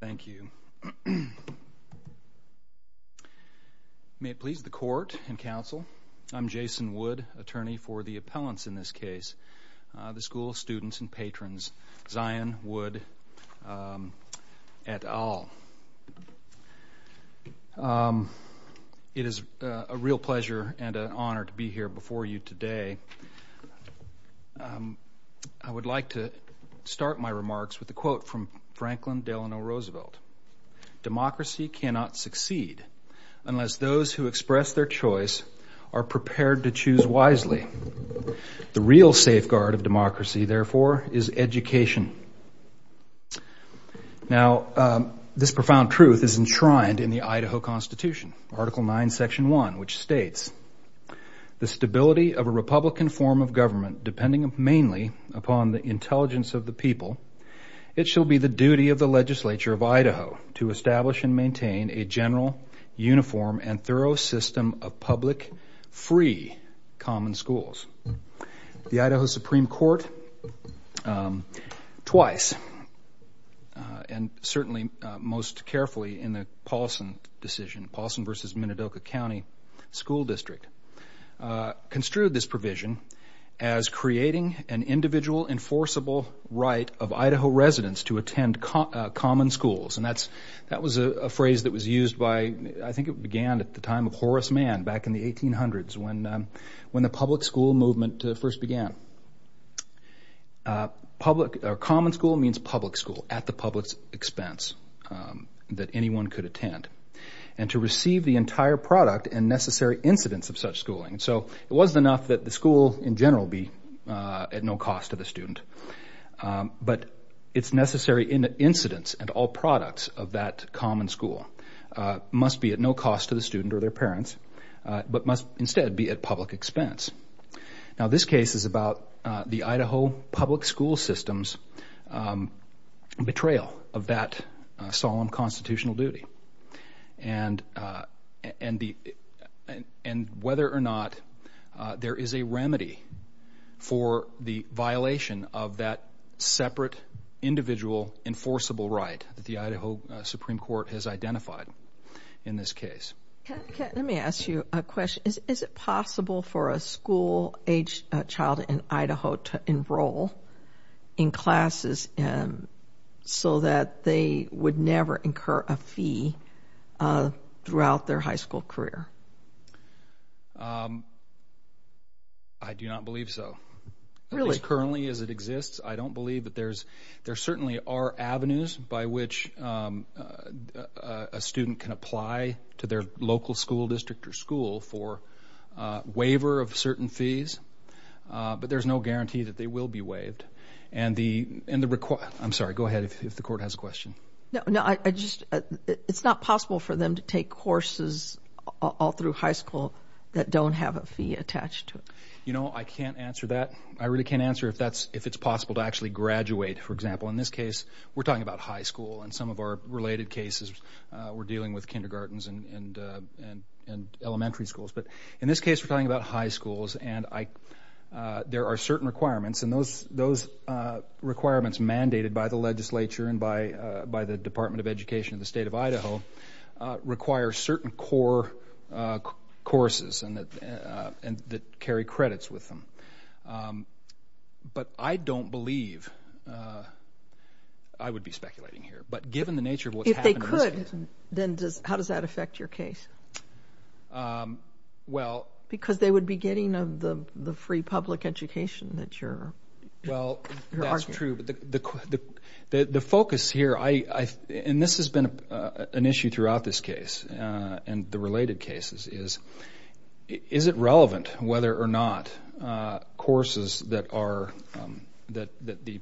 Thank you. May it please the Court and Council, I'm Jason Wood, attorney for the appellants in this case, the School of Students and Patrons, Zeyen Wood et al. It is a real pleasure and an honor to be here before you today. I would like to invite the Chief Justice of the United States, Justice Franklin Delano Roosevelt. Democracy cannot succeed unless those who express their choice are prepared to choose wisely. The real safeguard of democracy, therefore, is education. Now, this profound truth is enshrined in the Idaho Constitution, Article 9, Section 1, which states, The stability of a Republican form of government, depending mainly upon the intelligence of the people, it shall be the duty of the Legislature of Idaho to establish and maintain a general, uniform, and thorough system of public, free, common schools. The Idaho Supreme Court, twice, and certainly most carefully in the Paulson decision, Paulson v. Minidoka County School District, construed this provision as creating an individual, enforceable right of Idaho residents to attend common schools. That was a phrase that was used by, I think it began at the time of Horace Mann, back in the 1800s, when the public school movement first began. Common school means public school, at the public's expense, that anyone could attend, and to receive the entire product and necessary incidence of such schooling. So, it wasn't enough that the school, in general, be at no cost to the student, but its necessary incidence and all products of that common school must be at no cost to the student or their parents, but must instead be at public expense. Now, this case is about the Idaho public school system's betrayal of that solemn constitutional duty, and whether or not there is a remedy for the violation of that separate, individual, enforceable right that the Idaho Supreme Court has identified in this case. Let me ask you a question. Is it possible for a school-aged child in Idaho to enroll in classes so that they would never incur a fee throughout their high school career? I do not believe so. As currently as it exists, I don't believe that there's, there certainly are avenues by which a student can apply to their local school district or school for waiver of certain fees, but there's no guarantee that they will be waived. And the, I'm sorry, go ahead, if the court has a question. No, no, I just, it's not possible for them to take courses all through high school that don't have a fee attached to it. You know, I can't answer that. I really can't answer if that's, if it's possible to actually graduate, for example. In this case, we're talking about high school, and some of our related cases, we're dealing with kindergartens and elementary schools. But in this case, we're talking about high schools, and I, there are certain requirements, and those requirements mandated by the legislature and by the Department of Education of the state of Idaho require certain core courses and that carry credits with them. But I don't believe, I would be speculating here, but given the nature of what's happened in this case. Then does, how does that affect your case? Well. Because they would be getting the free public education that you're arguing. The focus here, I, and this has been an issue throughout this case, and the related cases, is, is it relevant whether or not courses that are, that the,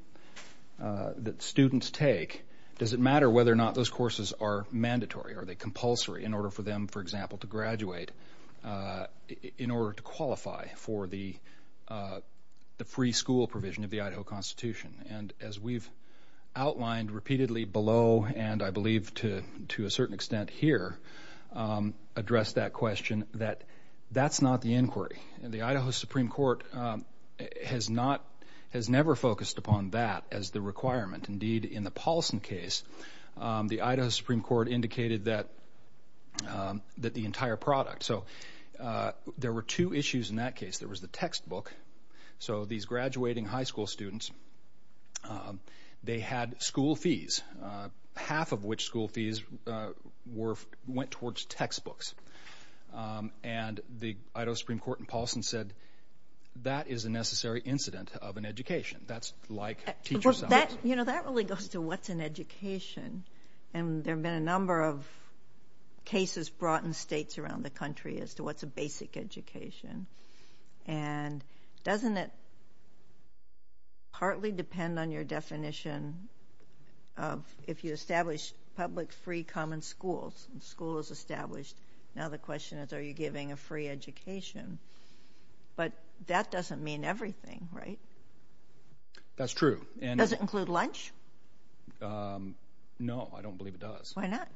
that students take, does it matter whether or not those courses are mandatory? Are they compulsory in order for them, for example, to graduate, in order to qualify for the, the free school provision of the Idaho Constitution? And as we've outlined repeatedly below, and I believe to, to a certain extent here, address that question, that, that's not the inquiry. The Idaho Supreme Court has not, has never focused upon that as the requirement. Indeed, in the Paulson case, the Idaho Supreme Court indicated that, that the entire product. So there were two issues in that case. There was the textbook. So these graduating high school students, they had school fees, half of which school fees were, went towards textbooks. And the Idaho Supreme Court in Paulson said, that is a necessary incident of an education. That's like teacher salaries. Well, that, you know, that really goes to what's an education. And there have been a number of cases brought in states around the country as to what's a basic education. And doesn't it partly depend on your definition of, if you establish public free common schools, school is established. Now the question is, are you giving a free education? But that doesn't mean everything, right? That's true. Does it include lunch? No, I don't believe it does. Why not?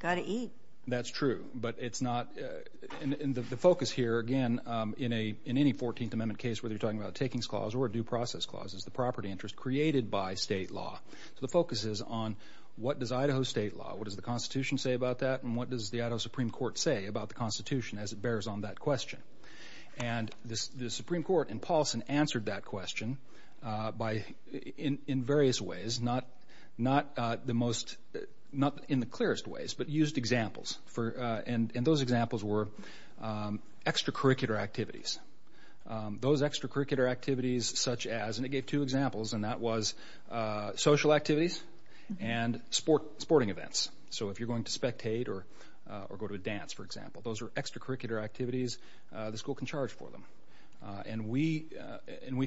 Got to eat. That's true. But it's not, and the focus here, again, in any 14th Amendment case, whether you're talking about a takings clause or a due process clause, is the property interest created by state law. So the focus is on what does Idaho state law, what does the Constitution say about that, and what does the Idaho Supreme Court say about the Constitution as it bears on that question. And the Supreme Court in Paulson answered that question by, in various ways, not the most, not in the clearest ways, but used examples, and those examples were extracurricular activities. Those extracurricular activities such as, and it gave two examples, and that was social activities and sporting events. So if you're going to spectate or go to a dance, for example, those are extracurricular activities the school can charge for them. And we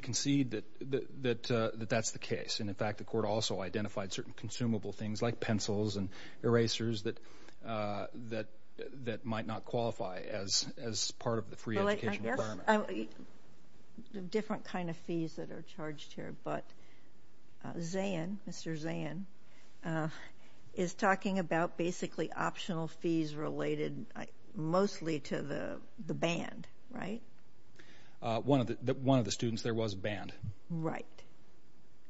concede that that's the case. And, in fact, the court also identified certain consumable things like pencils and erasers that might not qualify as part of the free education requirement. Different kind of fees that are charged here. But Zan, Mr. Zan, is talking about basically optional fees related mostly to the band, right? One of the students, there was a band. Right.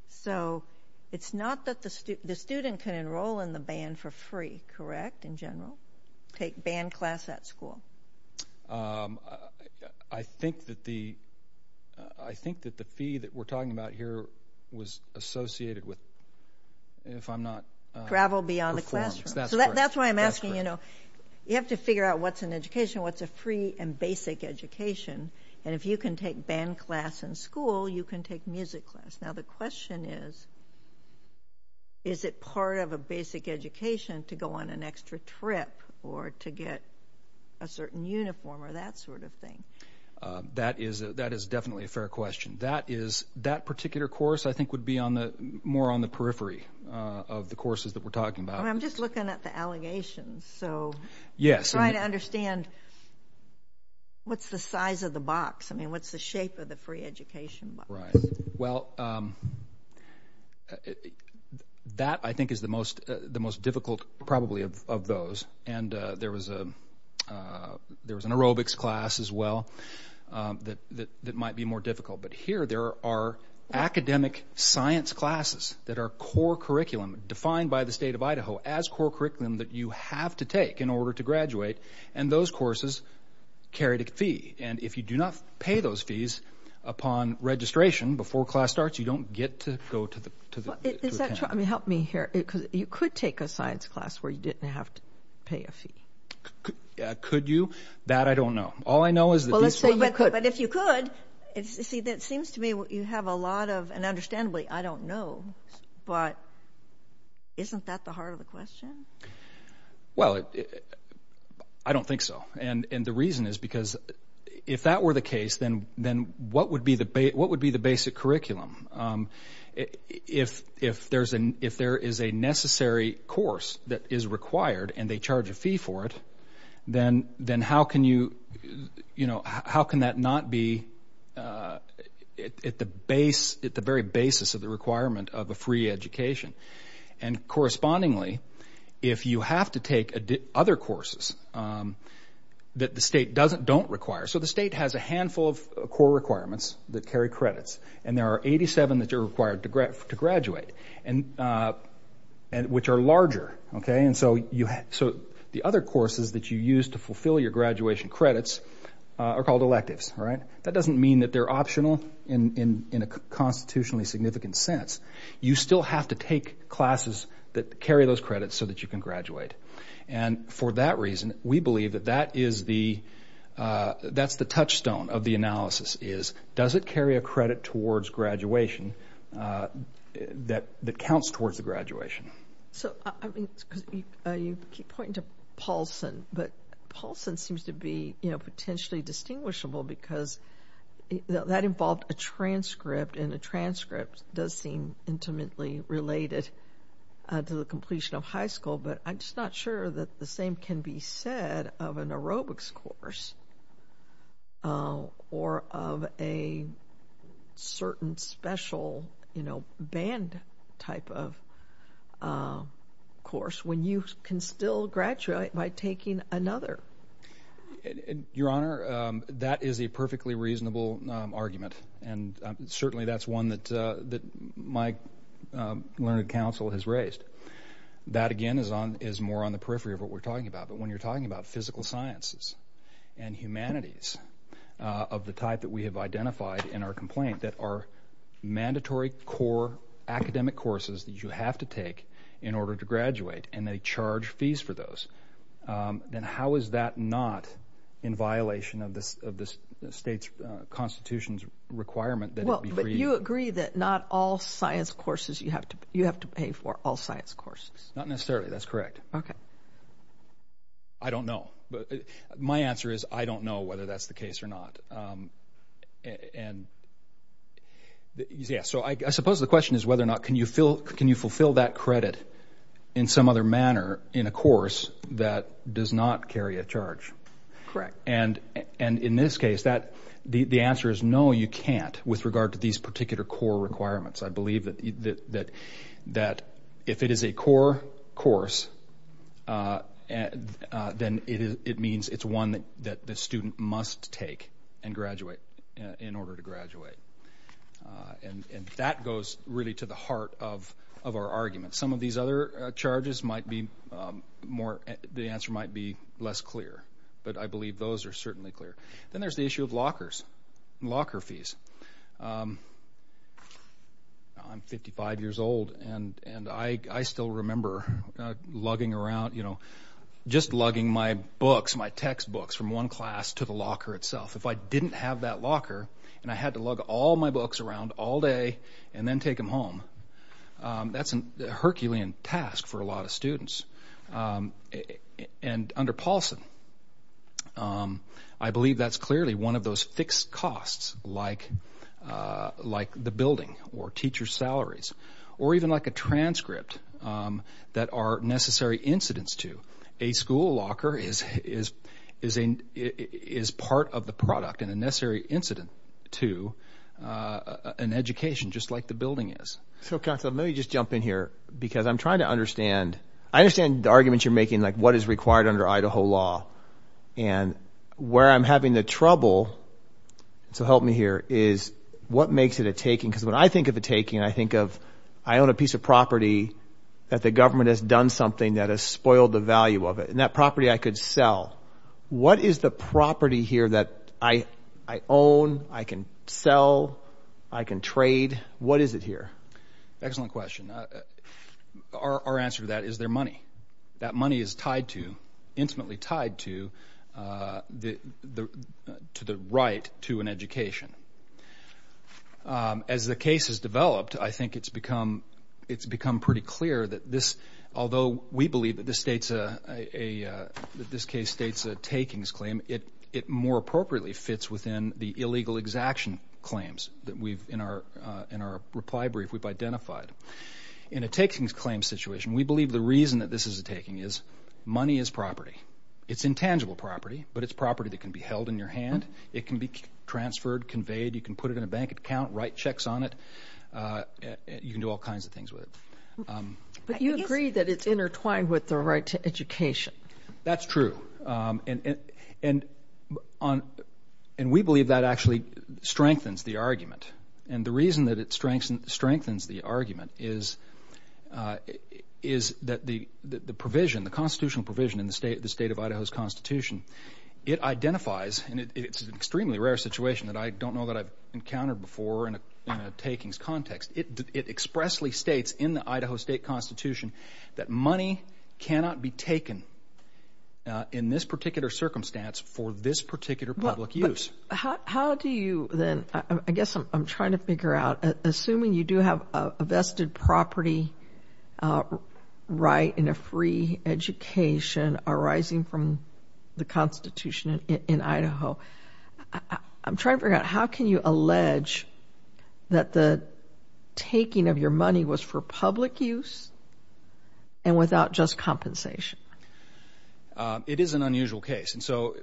So it's not that the student can enroll in the band for free, correct, in general? Take band class at school. I think that the fee that we're talking about here was associated with, if I'm not… Travel beyond the classroom. That's correct. So that's why I'm asking, you know, you have to figure out what's an education, what's a free and basic education. And if you can take band class in school, you can take music class. Now, the question is, is it part of a basic education to go on an extra trip or to get a certain uniform or that sort of thing? That is definitely a fair question. That particular course, I think, would be more on the periphery of the courses that we're talking about. I'm just looking at the allegations, so trying to understand what's the size of the box. I mean, what's the shape of the free education box? Well, that, I think, is the most difficult probably of those. And there was an aerobics class as well that might be more difficult. But here there are academic science classes that are core curriculum defined by the state of Idaho as core curriculum that you have to take in order to graduate. And those courses carry a fee. And if you do not pay those fees upon registration before class starts, you don't get to go to the camp. Is that true? I mean, help me here, because you could take a science class where you didn't have to pay a fee. Could you? That I don't know. All I know is that these people could. But if you could, see, it seems to me you have a lot of, and understandably, I don't know. But isn't that the heart of the question? Well, I don't think so. And the reason is because if that were the case, then what would be the basic curriculum? If there is a necessary course that is required and they charge a fee for it, then how can that not be at the very basis of the requirement of a free education? And correspondingly, if you have to take other courses that the state don't require, so the state has a handful of core requirements that carry credits. And there are 87 that are required to graduate, which are larger. And so the other courses that you use to fulfill your graduation credits are called electives. That doesn't mean that they're optional in a constitutionally significant sense. You still have to take classes that carry those credits so that you can graduate. And for that reason, we believe that that is the, that's the touchstone of the analysis is, does it carry a credit towards graduation that counts towards the graduation? So, I mean, you keep pointing to Paulson, but Paulson seems to be, you know, potentially distinguishable because that involved a transcript. And a transcript does seem intimately related to the completion of high school. But I'm just not sure that the same can be said of an aerobics course or of a certain special, you know, band type of course when you can still graduate by taking another. Your Honor, that is a perfectly reasonable argument. And certainly that's one that my learned counsel has raised. That, again, is on, is more on the periphery of what we're talking about. But when you're talking about physical sciences and humanities of the type that we have identified in our complaint that are mandatory core academic courses that you have to take in order to graduate and they charge fees for those. Then how is that not in violation of the state's constitution's requirement that it be free? Well, but you agree that not all science courses you have to, you have to pay for all science courses. Not necessarily. That's correct. Okay. I don't know. But my answer is I don't know whether that's the case or not. And so I suppose the question is whether or not can you fulfill that credit in some other manner in a course that does not carry a charge. Correct. And in this case, the answer is no, you can't with regard to these particular core requirements. I believe that if it is a core course, then it means it's one that the student must take and graduate in order to graduate. And that goes really to the heart of our argument. Some of these other charges might be more, the answer might be less clear. But I believe those are certainly clear. Then there's the issue of lockers and locker fees. I'm 55 years old and I still remember lugging around, you know, just lugging my books, my textbooks from one class to the locker itself. If I didn't have that locker and I had to lug all my books around all day and then take them home, that's a Herculean task for a lot of students. And under Paulson, I believe that's clearly one of those fixed costs like the building or teacher salaries or even like a transcript that are necessary incidents to. A school locker is part of the product and a necessary incident to an education just like the building is. So, counsel, let me just jump in here because I'm trying to understand. I understand the arguments you're making, like what is required under Idaho law and where I'm having the trouble. So help me here is what makes it a taking? Because when I think of a taking, I think of I own a piece of property that the government has done something that has spoiled the value of it. And that property I could sell. What is the property here that I own? I can sell. I can trade. What is it here? Excellent question. Our answer to that is their money. That money is tied to, intimately tied to the right to an education. As the case has developed, I think it's become pretty clear that this, although we believe that this case states a takings claim, it more appropriately fits within the illegal exaction claims that we've, in our reply brief, we've identified. In a takings claim situation, we believe the reason that this is a taking is money is property. It's intangible property, but it's property that can be held in your hand. It can be transferred, conveyed. You can put it in a bank account, write checks on it. You can do all kinds of things with it. But you agree that it's intertwined with the right to education. That's true. And we believe that actually strengthens the argument. And the reason that it strengthens the argument is that the provision, the constitutional provision in the State of Idaho's Constitution, it identifies, and it's an extremely rare situation that I don't know that I've encountered before in a takings context. It expressly states in the Idaho State Constitution that money cannot be taken in this particular circumstance for this particular public use. How do you then, I guess I'm trying to figure out, assuming you do have a vested property right in a free education arising from the Constitution in Idaho, I'm trying to figure out how can you allege that the taking of your money was for public use and without just compensation? It is an unusual case. And so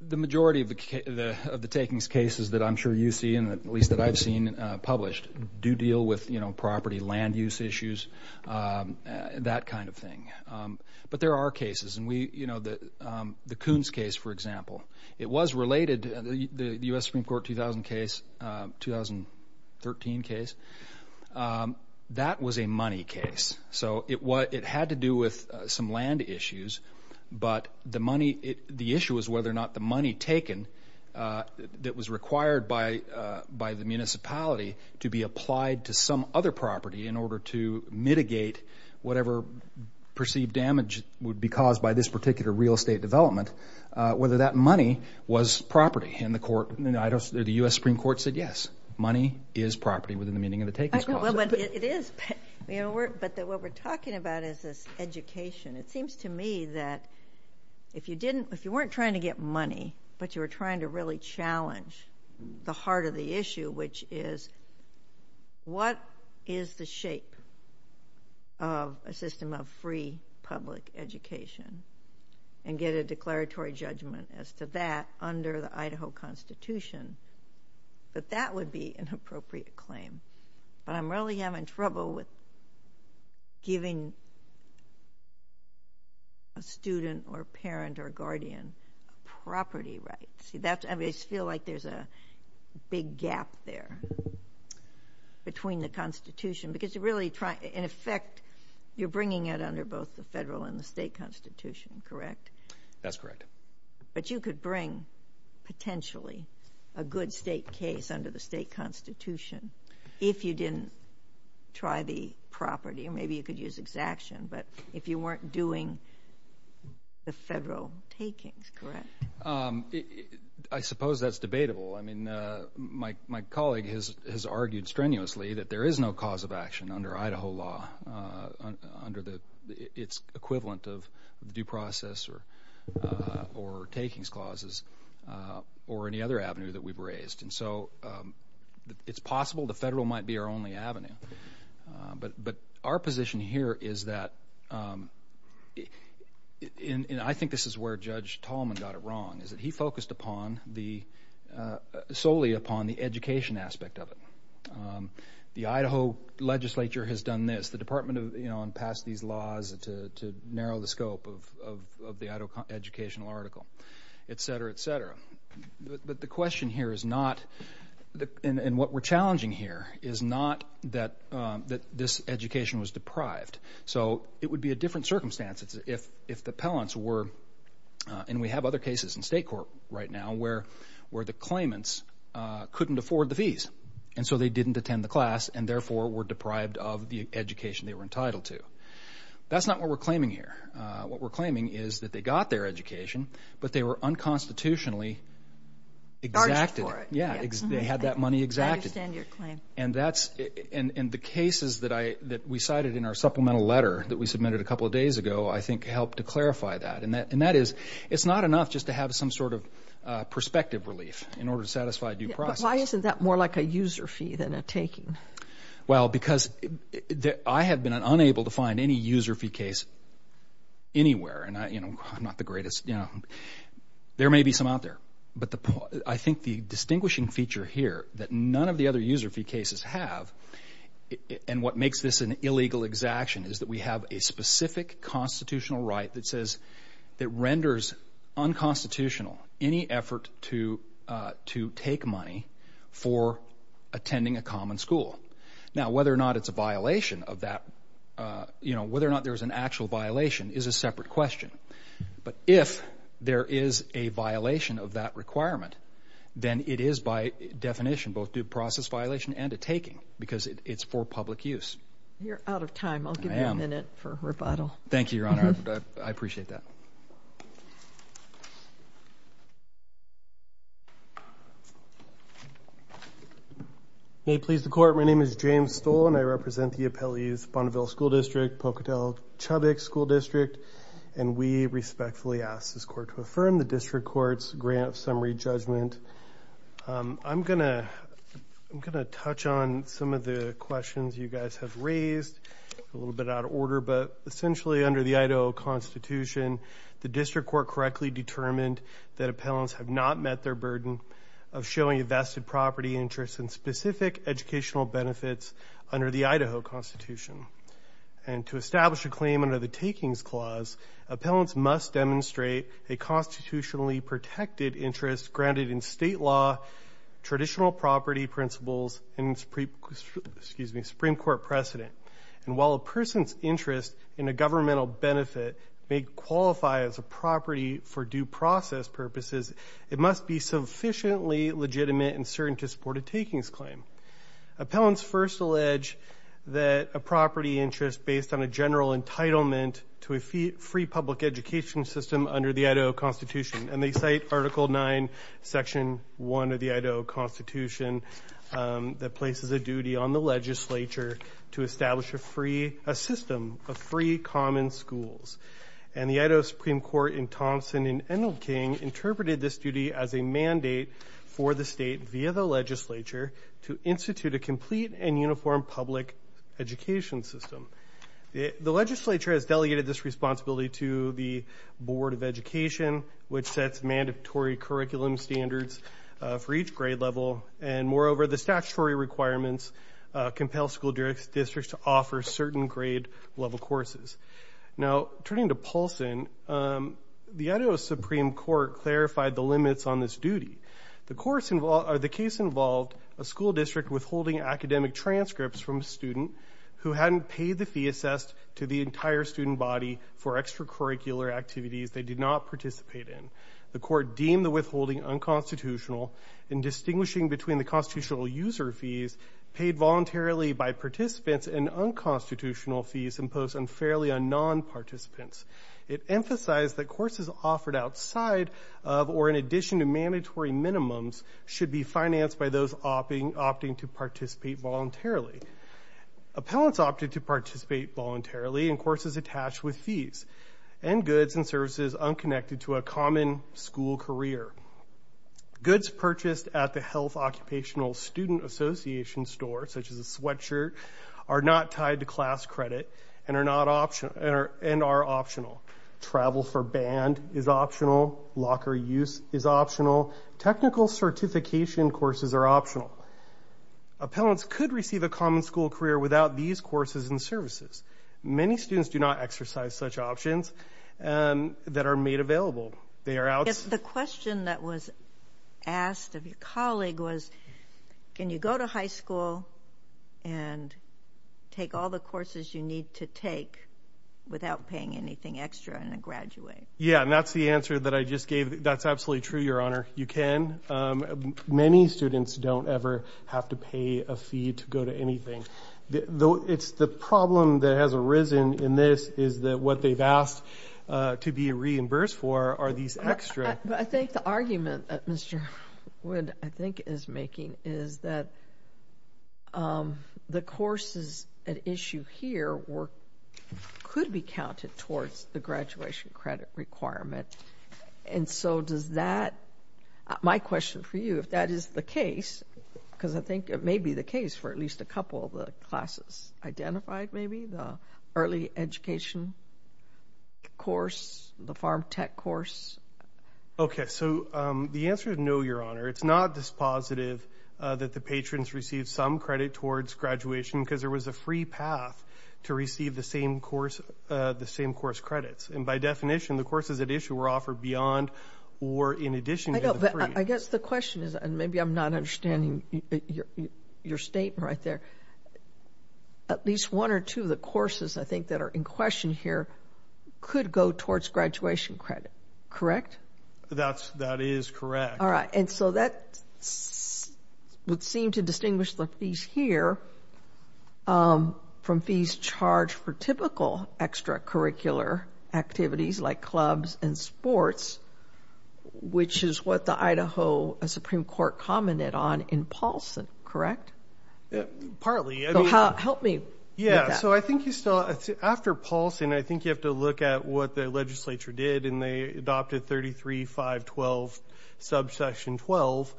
the majority of the takings cases that I'm sure you see, at least that I've seen published, do deal with property land use issues, that kind of thing. But there are cases. And we, you know, the Coons case, for example, it was related, the U.S. Supreme Court 2000 case, 2013 case, that was a money case. So it had to do with some land issues, but the money, the issue was whether or not the money taken that was required by the municipality to be development, whether that money was property. And the court, the U.S. Supreme Court said yes, money is property within the meaning of the takings clause. It is, but what we're talking about is this education. It seems to me that if you didn't, if you weren't trying to get money, but you were trying to really challenge the heart of the issue, which is what is the shape of a system of free public education and get a declaratory judgment as to that under the Idaho Constitution, that that would be an appropriate claim. But I'm really having trouble with giving a student or parent or guardian property rights. See, that's, I mean, I feel like there's a big gap there between the Constitution, because you're really trying, in effect, you're bringing it under both the federal and the state constitution, correct? That's correct. But you could bring, potentially, a good state case under the state constitution if you didn't try the property. Maybe you could use exaction, but if you weren't doing the federal takings, correct? I suppose that's debatable. I mean, my colleague has argued strenuously that there is no cause of action under Idaho law, under its equivalent of due process or takings clauses or any other avenue that we've raised. And so it's possible the federal might be our only avenue. But our position here is that, and I think this is where Judge Tallman got it wrong, is that he focused solely upon the education aspect of it. The Idaho legislature has done this. The Department passed these laws to narrow the scope of the Idaho educational article, et cetera, et cetera. But the question here is not, and what we're challenging here, is not that this education was deprived. So it would be a different circumstance if the appellants were, and we have other cases in state court right now, where the claimants couldn't afford the fees, and so they didn't attend the class and therefore were deprived of the education they were entitled to. That's not what we're claiming here. What we're claiming is that they got their education, but they were unconstitutionally exacted. They had that money exacted. I understand your claim. And the cases that we cited in our supplemental letter that we submitted a couple of days ago, I think, helped to clarify that. And that is, it's not enough just to have some sort of prospective relief in order to satisfy due process. But why isn't that more like a user fee than a taking? Well, because I have been unable to find any user fee case anywhere, and I'm not the greatest. There may be some out there. But I think the distinguishing feature here that none of the other user fee cases have, and what makes this an illegal exaction is that we have a specific constitutional right that says that renders unconstitutional any effort to take money for attending a common school. Now, whether or not it's a violation of that, you know, whether or not there's an actual violation is a separate question. But if there is a violation of that requirement, then it is by definition both due process violation and a taking because it's for public use. You're out of time. I'll give you a minute for rebuttal. Thank you, Your Honor. I appreciate that. May it please the Court, my name is James Stoll, and I represent the Appellee's Bonneville School District, Pocatello-Chubbuck School District, and we respectfully ask this court to affirm the district court's grant summary judgment. I'm going to touch on some of the questions you guys have raised. A little bit out of order, but essentially under the Idaho Constitution, the district court correctly determined that appellants have not met their burden of showing vested property interests and specific educational benefits under the Idaho Constitution. And to establish a claim under the Takings Clause, appellants must demonstrate a constitutionally protected interest granted in state law, traditional property principles, and Supreme Court precedent. And while a person's interest in a governmental benefit may qualify as a property for due process purposes, it must be sufficiently legitimate and certain to support a takings claim. Appellants first allege that a property interest based on a general entitlement to a free public education system under the Idaho Constitution, and they cite Article 9, Section 1 of the Idaho Constitution that places a duty on the legislature to establish a system of free common schools. And the Idaho Supreme Court in Thompson and Enelking interpreted this duty as a mandate for the state, via the legislature, to institute a complete and uniform public education system. The legislature has delegated this responsibility to the Board of Education, which sets mandatory curriculum standards for each grade level. And moreover, the statutory requirements compel school districts to offer certain grade level courses. Now, turning to Paulson, the Idaho Supreme Court clarified the limits on this duty. The case involved a school district withholding academic transcripts from a student who hadn't paid the fee assessed to the entire student body for extracurricular activities they did not participate in. The court deemed the withholding unconstitutional in distinguishing between the constitutional user fees paid voluntarily by participants and unconstitutional fees imposed unfairly on non-participants. It emphasized that courses offered outside of or in addition to mandatory minimums should be financed by those opting to participate voluntarily. Appellants opted to participate voluntarily in courses attached with fees and goods and services unconnected to a common school career. Goods purchased at the Health Occupational Student Association store, such as a sweatshirt, are not tied to class credit and are optional. Technical certification courses are optional. Appellants could receive a common school career without these courses and services. Many students do not exercise such options that are made available. The question that was asked of your colleague was, can you go to high school and take all the courses you need to take without paying anything extra and then graduate? Yeah, and that's the answer that I just gave. That's absolutely true, Your Honor. You can. Many students don't ever have to pay a fee to go to anything. It's the problem that has arisen in this is that what they've asked to be reimbursed for are these extra. I think the argument that Mr. Wood, I think, is making is that the courses at issue here could be counted towards the graduation credit requirement. And so does that, my question for you, if that is the case, because I think it may be the case for at least a couple of the classes identified, maybe the early education course, the farm tech course. OK, so the answer is no, Your Honor. It's not dispositive that the patrons receive some credit towards graduation because there was a free path to receive the same course credits. And by definition, the courses at issue were offered beyond or in addition to the free. I guess the question is, and maybe I'm not understanding your statement right there, at least one or two of the courses, I think, that are in question here could go towards graduation credit. Correct? That is correct. All right, and so that would seem to distinguish the fees here from fees charged for typical extracurricular activities like clubs and sports, which is what the Idaho Supreme Court commented on in Paulson, correct? Partly. Help me with that. Yeah, so I think after Paulson, I think you have to look at what the legislature did, and they adopted 33.512, subsection 12,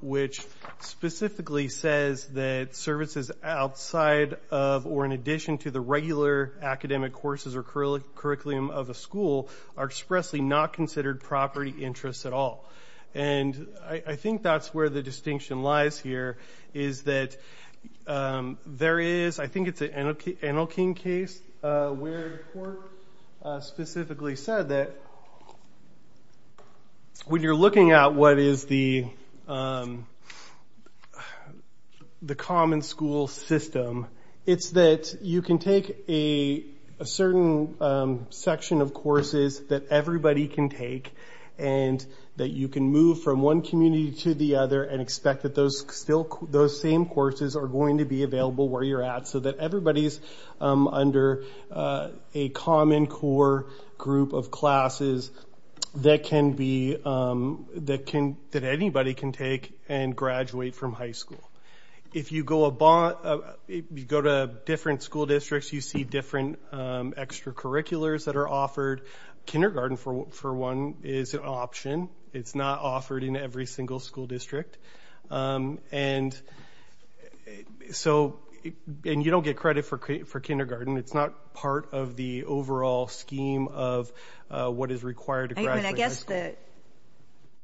which specifically says that services outside of or in addition to the regular academic courses or curriculum of a school are expressly not considered property interests at all. And I think that's where the distinction lies here, is that there is, I think it's an Enelking case, where the court specifically said that when you're looking at what is the common school system, it's that you can take a certain section of courses that everybody can take and that you can move from one community to the other and expect that those same courses are going to be available where you're at so that everybody's under a common core group of classes that anybody can take and graduate from high school. If you go to different school districts, you see different extracurriculars that are offered. Kindergarten, for one, is an option. It's not offered in every single school district. And so you don't get credit for kindergarten. It's not part of the overall scheme of what is required to graduate high school. I guess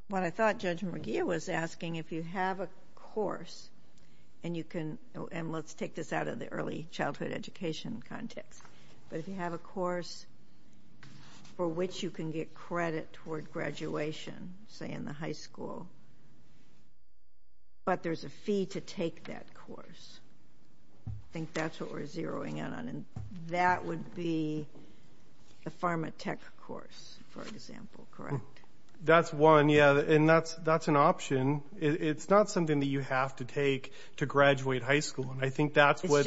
what I thought Judge McGeeh was asking, if you have a course, and let's take this out of the early childhood education context, but if you have a course for which you can get credit toward graduation, say, in the high school, but there's a fee to take that course, I think that's what we're zeroing in on, and that would be the pharmatech course, for example, correct? That's one, yeah, and that's an option. It's not something that you have to take to graduate high school, and I think that's what— You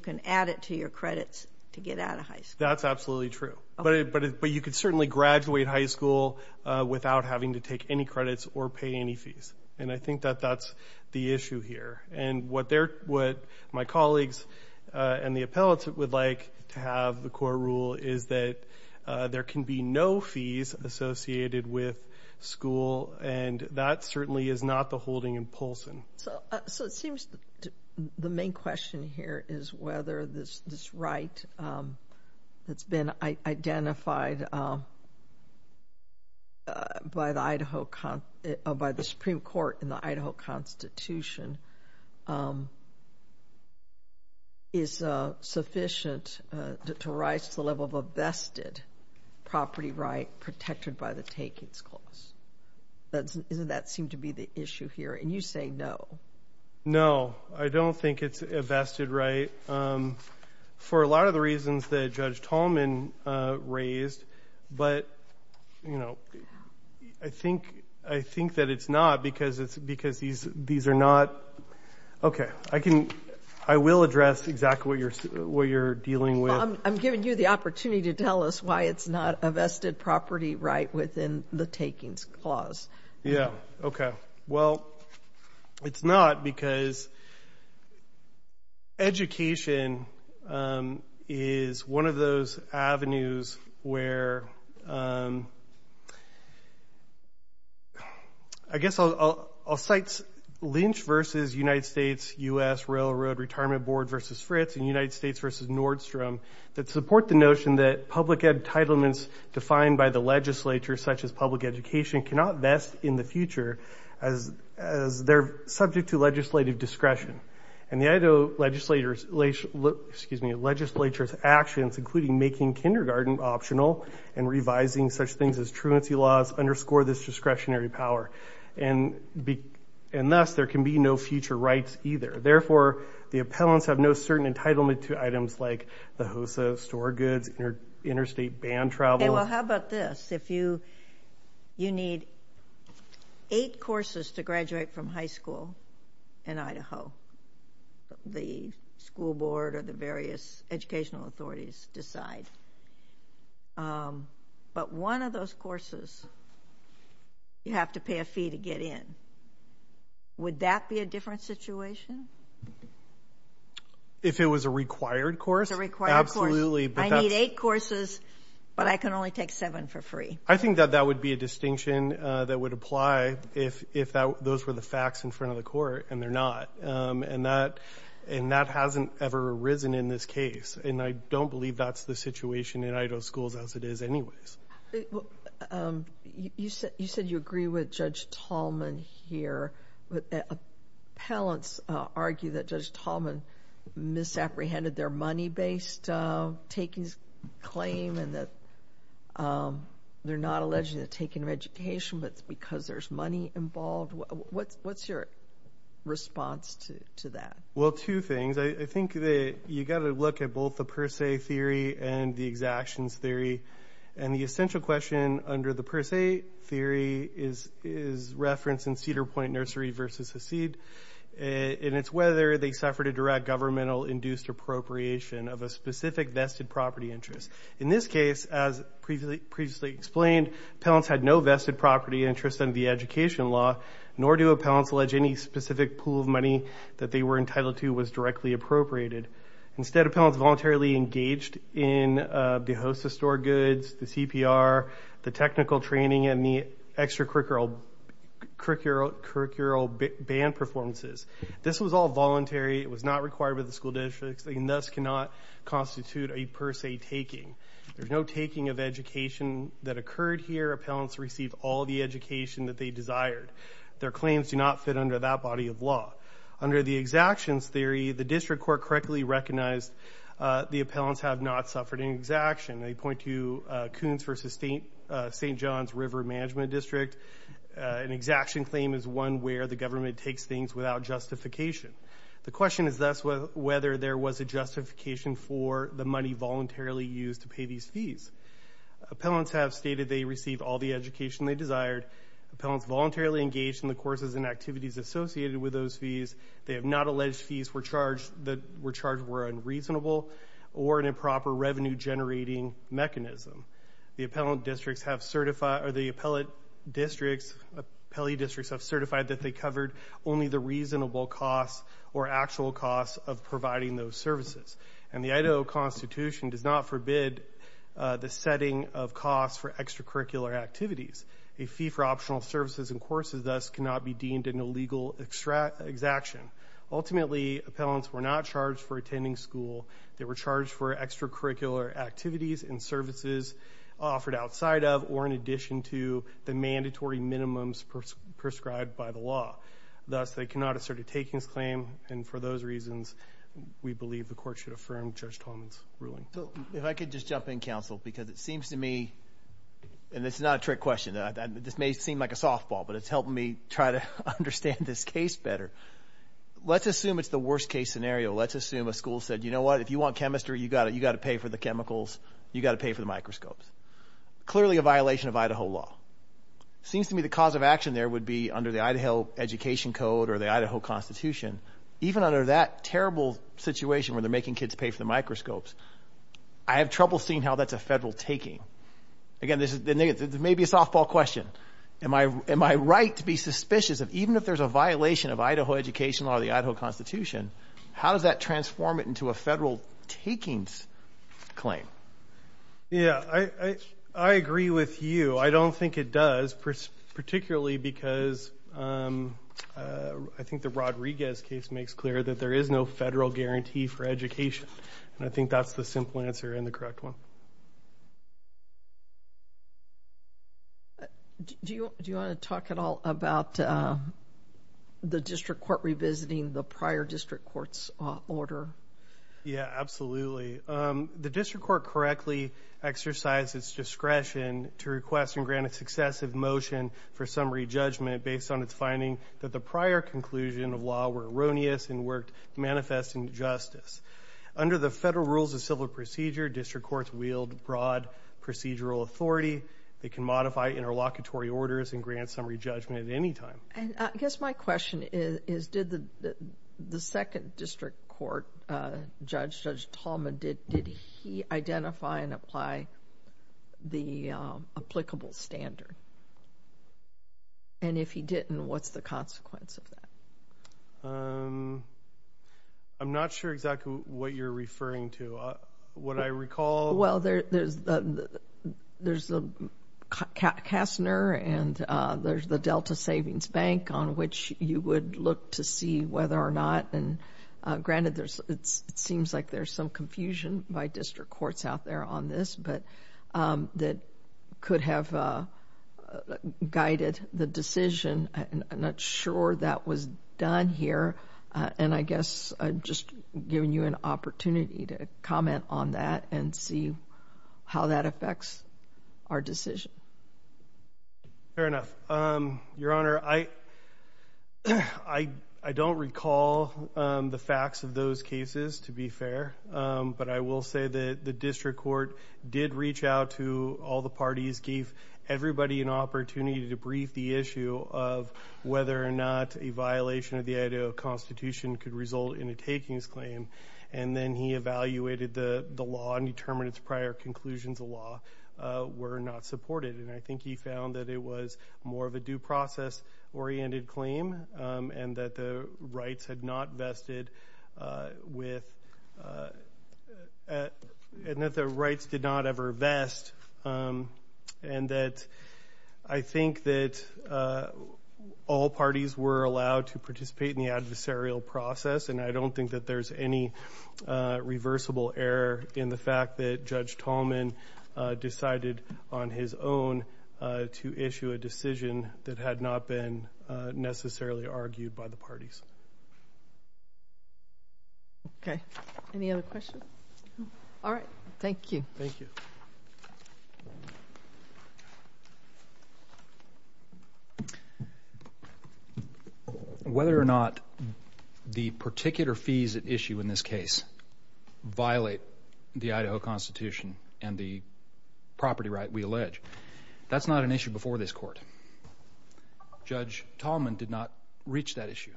can add it to your credits to get out of high school. That's absolutely true. But you could certainly graduate high school without having to take any credits or pay any fees, and I think that that's the issue here. And what my colleagues and the appellate would like to have, the core rule, is that there can be no fees associated with school, and that certainly is not the holding in Polson. So it seems the main question here is whether this right that's been identified by the Idaho— by the Supreme Court in the Idaho Constitution is sufficient to rise to the level of a vested property right protected by the takings clause. Doesn't that seem to be the issue here? And you say no. No, I don't think it's a vested right for a lot of the reasons that Judge Tolman raised, but I think that it's not because these are not— Okay, I will address exactly what you're dealing with. I'm giving you the opportunity to tell us why it's not a vested property right within the takings clause. Yeah, okay. Well, it's not because education is one of those avenues where— I guess I'll cite Lynch v. United States, U.S. Railroad Retirement Board v. Fritz and United States v. Nordstrom that support the notion that public entitlements defined by the legislature, such as public education, cannot vest in the future as they're subject to legislative discretion. And the Idaho legislature's actions, including making kindergarten optional and revising such things as truancy laws, underscore this discretionary power. And thus, there can be no future rights either. Therefore, the appellants have no certain entitlement to items like the HOSA store goods, interstate ban travel. Well, how about this? If you need eight courses to graduate from high school in Idaho, the school board or the various educational authorities decide, but one of those courses you have to pay a fee to get in. Would that be a different situation? If it was a required course? If it was a required course. Absolutely. I need eight courses, but I can only take seven for free. I think that that would be a distinction that would apply if those were the facts in front of the court, and they're not. And that hasn't ever arisen in this case. And I don't believe that's the situation in Idaho schools as it is anyways. You said you agree with Judge Tallman here, but appellants argue that Judge Tallman misapprehended their money-based takings claim and that they're not alleged to have taken an education, but it's because there's money involved. What's your response to that? Well, two things. I think that you've got to look at both the per se theory and the exactions theory, and the essential question under the per se theory is referenced in Cedar Point Nursery versus Hacid, and it's whether they suffered a direct governmental-induced appropriation of a specific vested property interest. In this case, as previously explained, appellants had no vested property interest under the education law, nor do appellants allege any specific pool of money that they were entitled to was directly appropriated. Instead, appellants voluntarily engaged in the host of store goods, the CPR, the technical training, and the extracurricular band performances. This was all voluntary. It was not required by the school districts, and thus cannot constitute a per se taking. There's no taking of education that occurred here. Appellants received all the education that they desired. Their claims do not fit under that body of law. Under the exactions theory, the district court correctly recognized the appellants have not suffered an exaction. They point to Coons versus St. John's River Management District. An exaction claim is one where the government takes things without justification. The question is thus whether there was a justification for the money voluntarily used to pay these fees. Appellants have stated they received all the education they desired. Appellants voluntarily engaged in the courses and activities associated with those fees. They have not alleged fees that were charged were unreasonable or an improper revenue generating mechanism. The appellate districts have certified that they covered only the reasonable costs or actual costs of providing those services. And the Idaho Constitution does not forbid the setting of costs for extracurricular activities. A fee for optional services and courses thus cannot be deemed an illegal exaction. Ultimately, appellants were not charged for attending school. They were charged for extracurricular activities and services offered outside of or in addition to the mandatory minimums prescribed by the law. Thus, they cannot assert a takings claim. And for those reasons, we believe the court should affirm Judge Tolman's ruling. If I could just jump in, counsel, because it seems to me – and this is not a trick question. This may seem like a softball, but it's helping me try to understand this case better. Let's assume it's the worst case scenario. Let's assume a school said, you know what, if you want chemistry, you've got to pay for the chemicals. You've got to pay for the microscopes. Clearly a violation of Idaho law. It seems to me the cause of action there would be under the Idaho Education Code or the Idaho Constitution. Even under that terrible situation where they're making kids pay for the microscopes, I have trouble seeing how that's a federal taking. Again, this may be a softball question. Am I right to be suspicious of even if there's a violation of Idaho Education Law or the Idaho Constitution, how does that transform it into a federal takings claim? Yeah, I agree with you. I don't think it does, particularly because I think the Rodriguez case makes clear that there is no federal guarantee for education. I think that's the simple answer and the correct one. Do you want to talk at all about the district court revisiting the prior district court's order? Yeah, absolutely. The district court correctly exercised its discretion to request and grant a successive motion for summary judgment based on its finding that the prior conclusion of law were erroneous and worked manifest injustice. Under the federal rules of civil procedure, district courts wield broad procedural authority. They can modify interlocutory orders and grant summary judgment at any time. I guess my question is did the second district court judge, Judge Tallman, did he identify and apply the applicable standard? And if he didn't, what's the consequence of that? I'm not sure exactly what you're referring to. Well, there's Kastner and there's the Delta Savings Bank on which you would look to see whether or not, and granted it seems like there's some confusion by district courts out there on this, but that could have guided the decision. I'm not sure that was done here. And I guess I'm just giving you an opportunity to comment on that and see how that affects our decision. Fair enough. Your Honor, I don't recall the facts of those cases, to be fair, but I will say that the district court did reach out to all the parties, gave everybody an opportunity to brief the issue of whether or not a violation of the Idaho Constitution could result in a takings claim, and then he evaluated the law and determined its prior conclusions of law were not supported. And I think he found that it was more of a due process-oriented claim and that the rights did not ever vest, and that I think that all parties were allowed to participate in the adversarial process, and I don't think that there's any reversible error in the fact that Judge Tallman decided on his own to issue a decision that had not been necessarily argued by the parties. Okay. Any other questions? No. All right. Thank you. Thank you. Whether or not the particular fees at issue in this case violate the Idaho Constitution and the property right we allege, that's not an issue before this court. Judge Tallman did not reach that issue.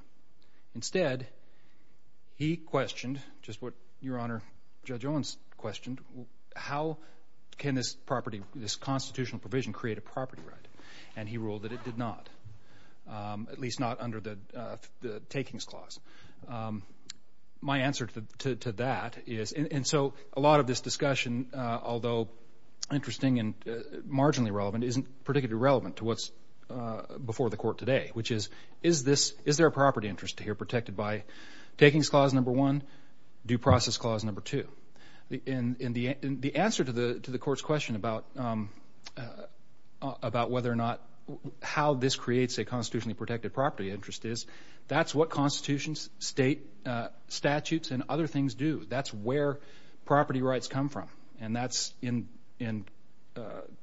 Instead, he questioned, just what Your Honor, Judge Owens questioned, how can this constitutional provision create a property right, and he ruled that it did not, at least not under the takings clause. My answer to that is, and so a lot of this discussion, although interesting and marginally relevant, isn't particularly relevant to what's before the court today, which is, is there a property interest here protected by takings clause number one, due process clause number two? And the answer to the court's question about whether or not, how this creates a constitutionally protected property interest is, that's what constitutions, state statutes, and other things do. That's where property rights come from, and that's in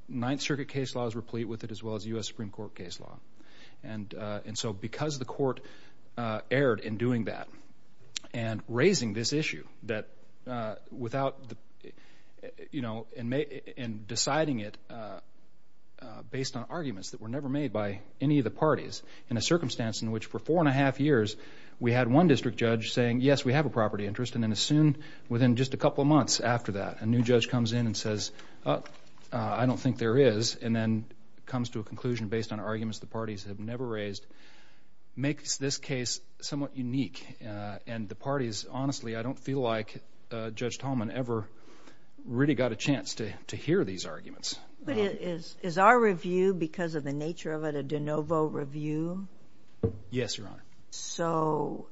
Ninth Circuit case laws replete with it, as well as U.S. Supreme Court case law. And so because the court erred in doing that and raising this issue that without, you know, in deciding it based on arguments that were never made by any of the parties in a circumstance in which for four and a half years we had one district judge saying, yes, we have a property interest, and then as soon, within just a couple of months after that, a new judge comes in and says, oh, I don't think there is, and then comes to a conclusion based on arguments the parties have never raised, makes this case somewhat unique. And the parties, honestly, I don't feel like Judge Tallman ever really got a chance to hear these arguments. But is our review, because of the nature of it, a de novo review? Yes, Your Honor. So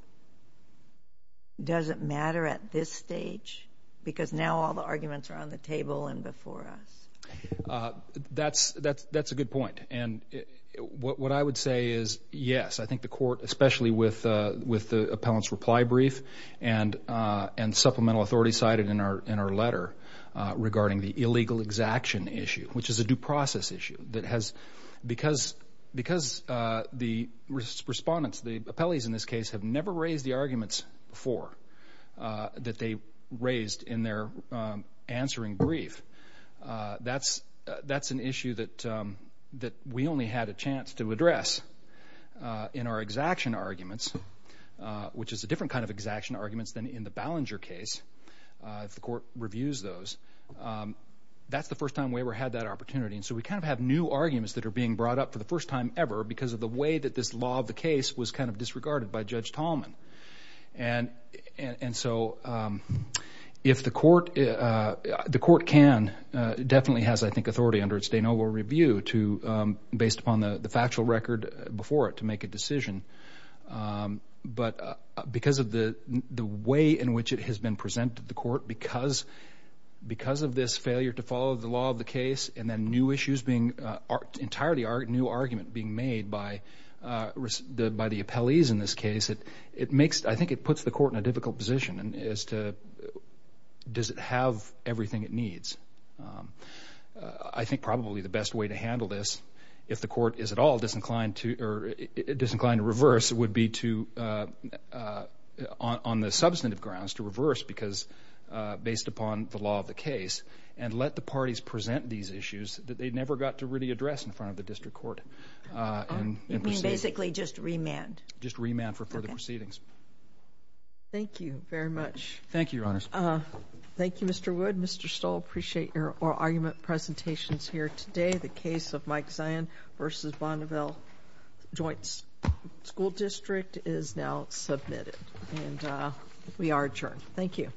does it matter at this stage? Because now all the arguments are on the table and before us. That's a good point. And what I would say is yes. I think the court, especially with the appellant's reply brief and supplemental authority cited in our letter regarding the illegal exaction issue, which is a due process issue, because the respondents, the appellees in this case, have never raised the arguments before that they raised in their answering brief. That's an issue that we only had a chance to address in our exaction arguments, which is a different kind of exaction arguments than in the Ballinger case, if the court reviews those. That's the first time we ever had that opportunity. And so we kind of have new arguments that are being brought up for the first time ever because of the way that this law of the case was kind of disregarded by Judge Tallman. And so if the court can, definitely has, I think, authority under its de novo review based upon the factual record before it to make a decision. But because of the way in which it has been presented to the court, because of this failure to follow the law of the case and then entirely new argument being made by the appellees in this case, I think it puts the court in a difficult position as to does it have everything it needs. I think probably the best way to handle this, if the court is at all disinclined to reverse, would be on the substantive grounds to reverse based upon the law of the case and let the parties present these issues that they never got to really address in front of the district court. You mean basically just remand? Just remand for further proceedings. Thank you very much. Thank you, Your Honors. Thank you, Mr. Wood. Mr. Stoll, I appreciate your oral argument presentations here today. The case of Mike Zion v. Bonneville Joint School District is now submitted. And we are adjourned. Thank you.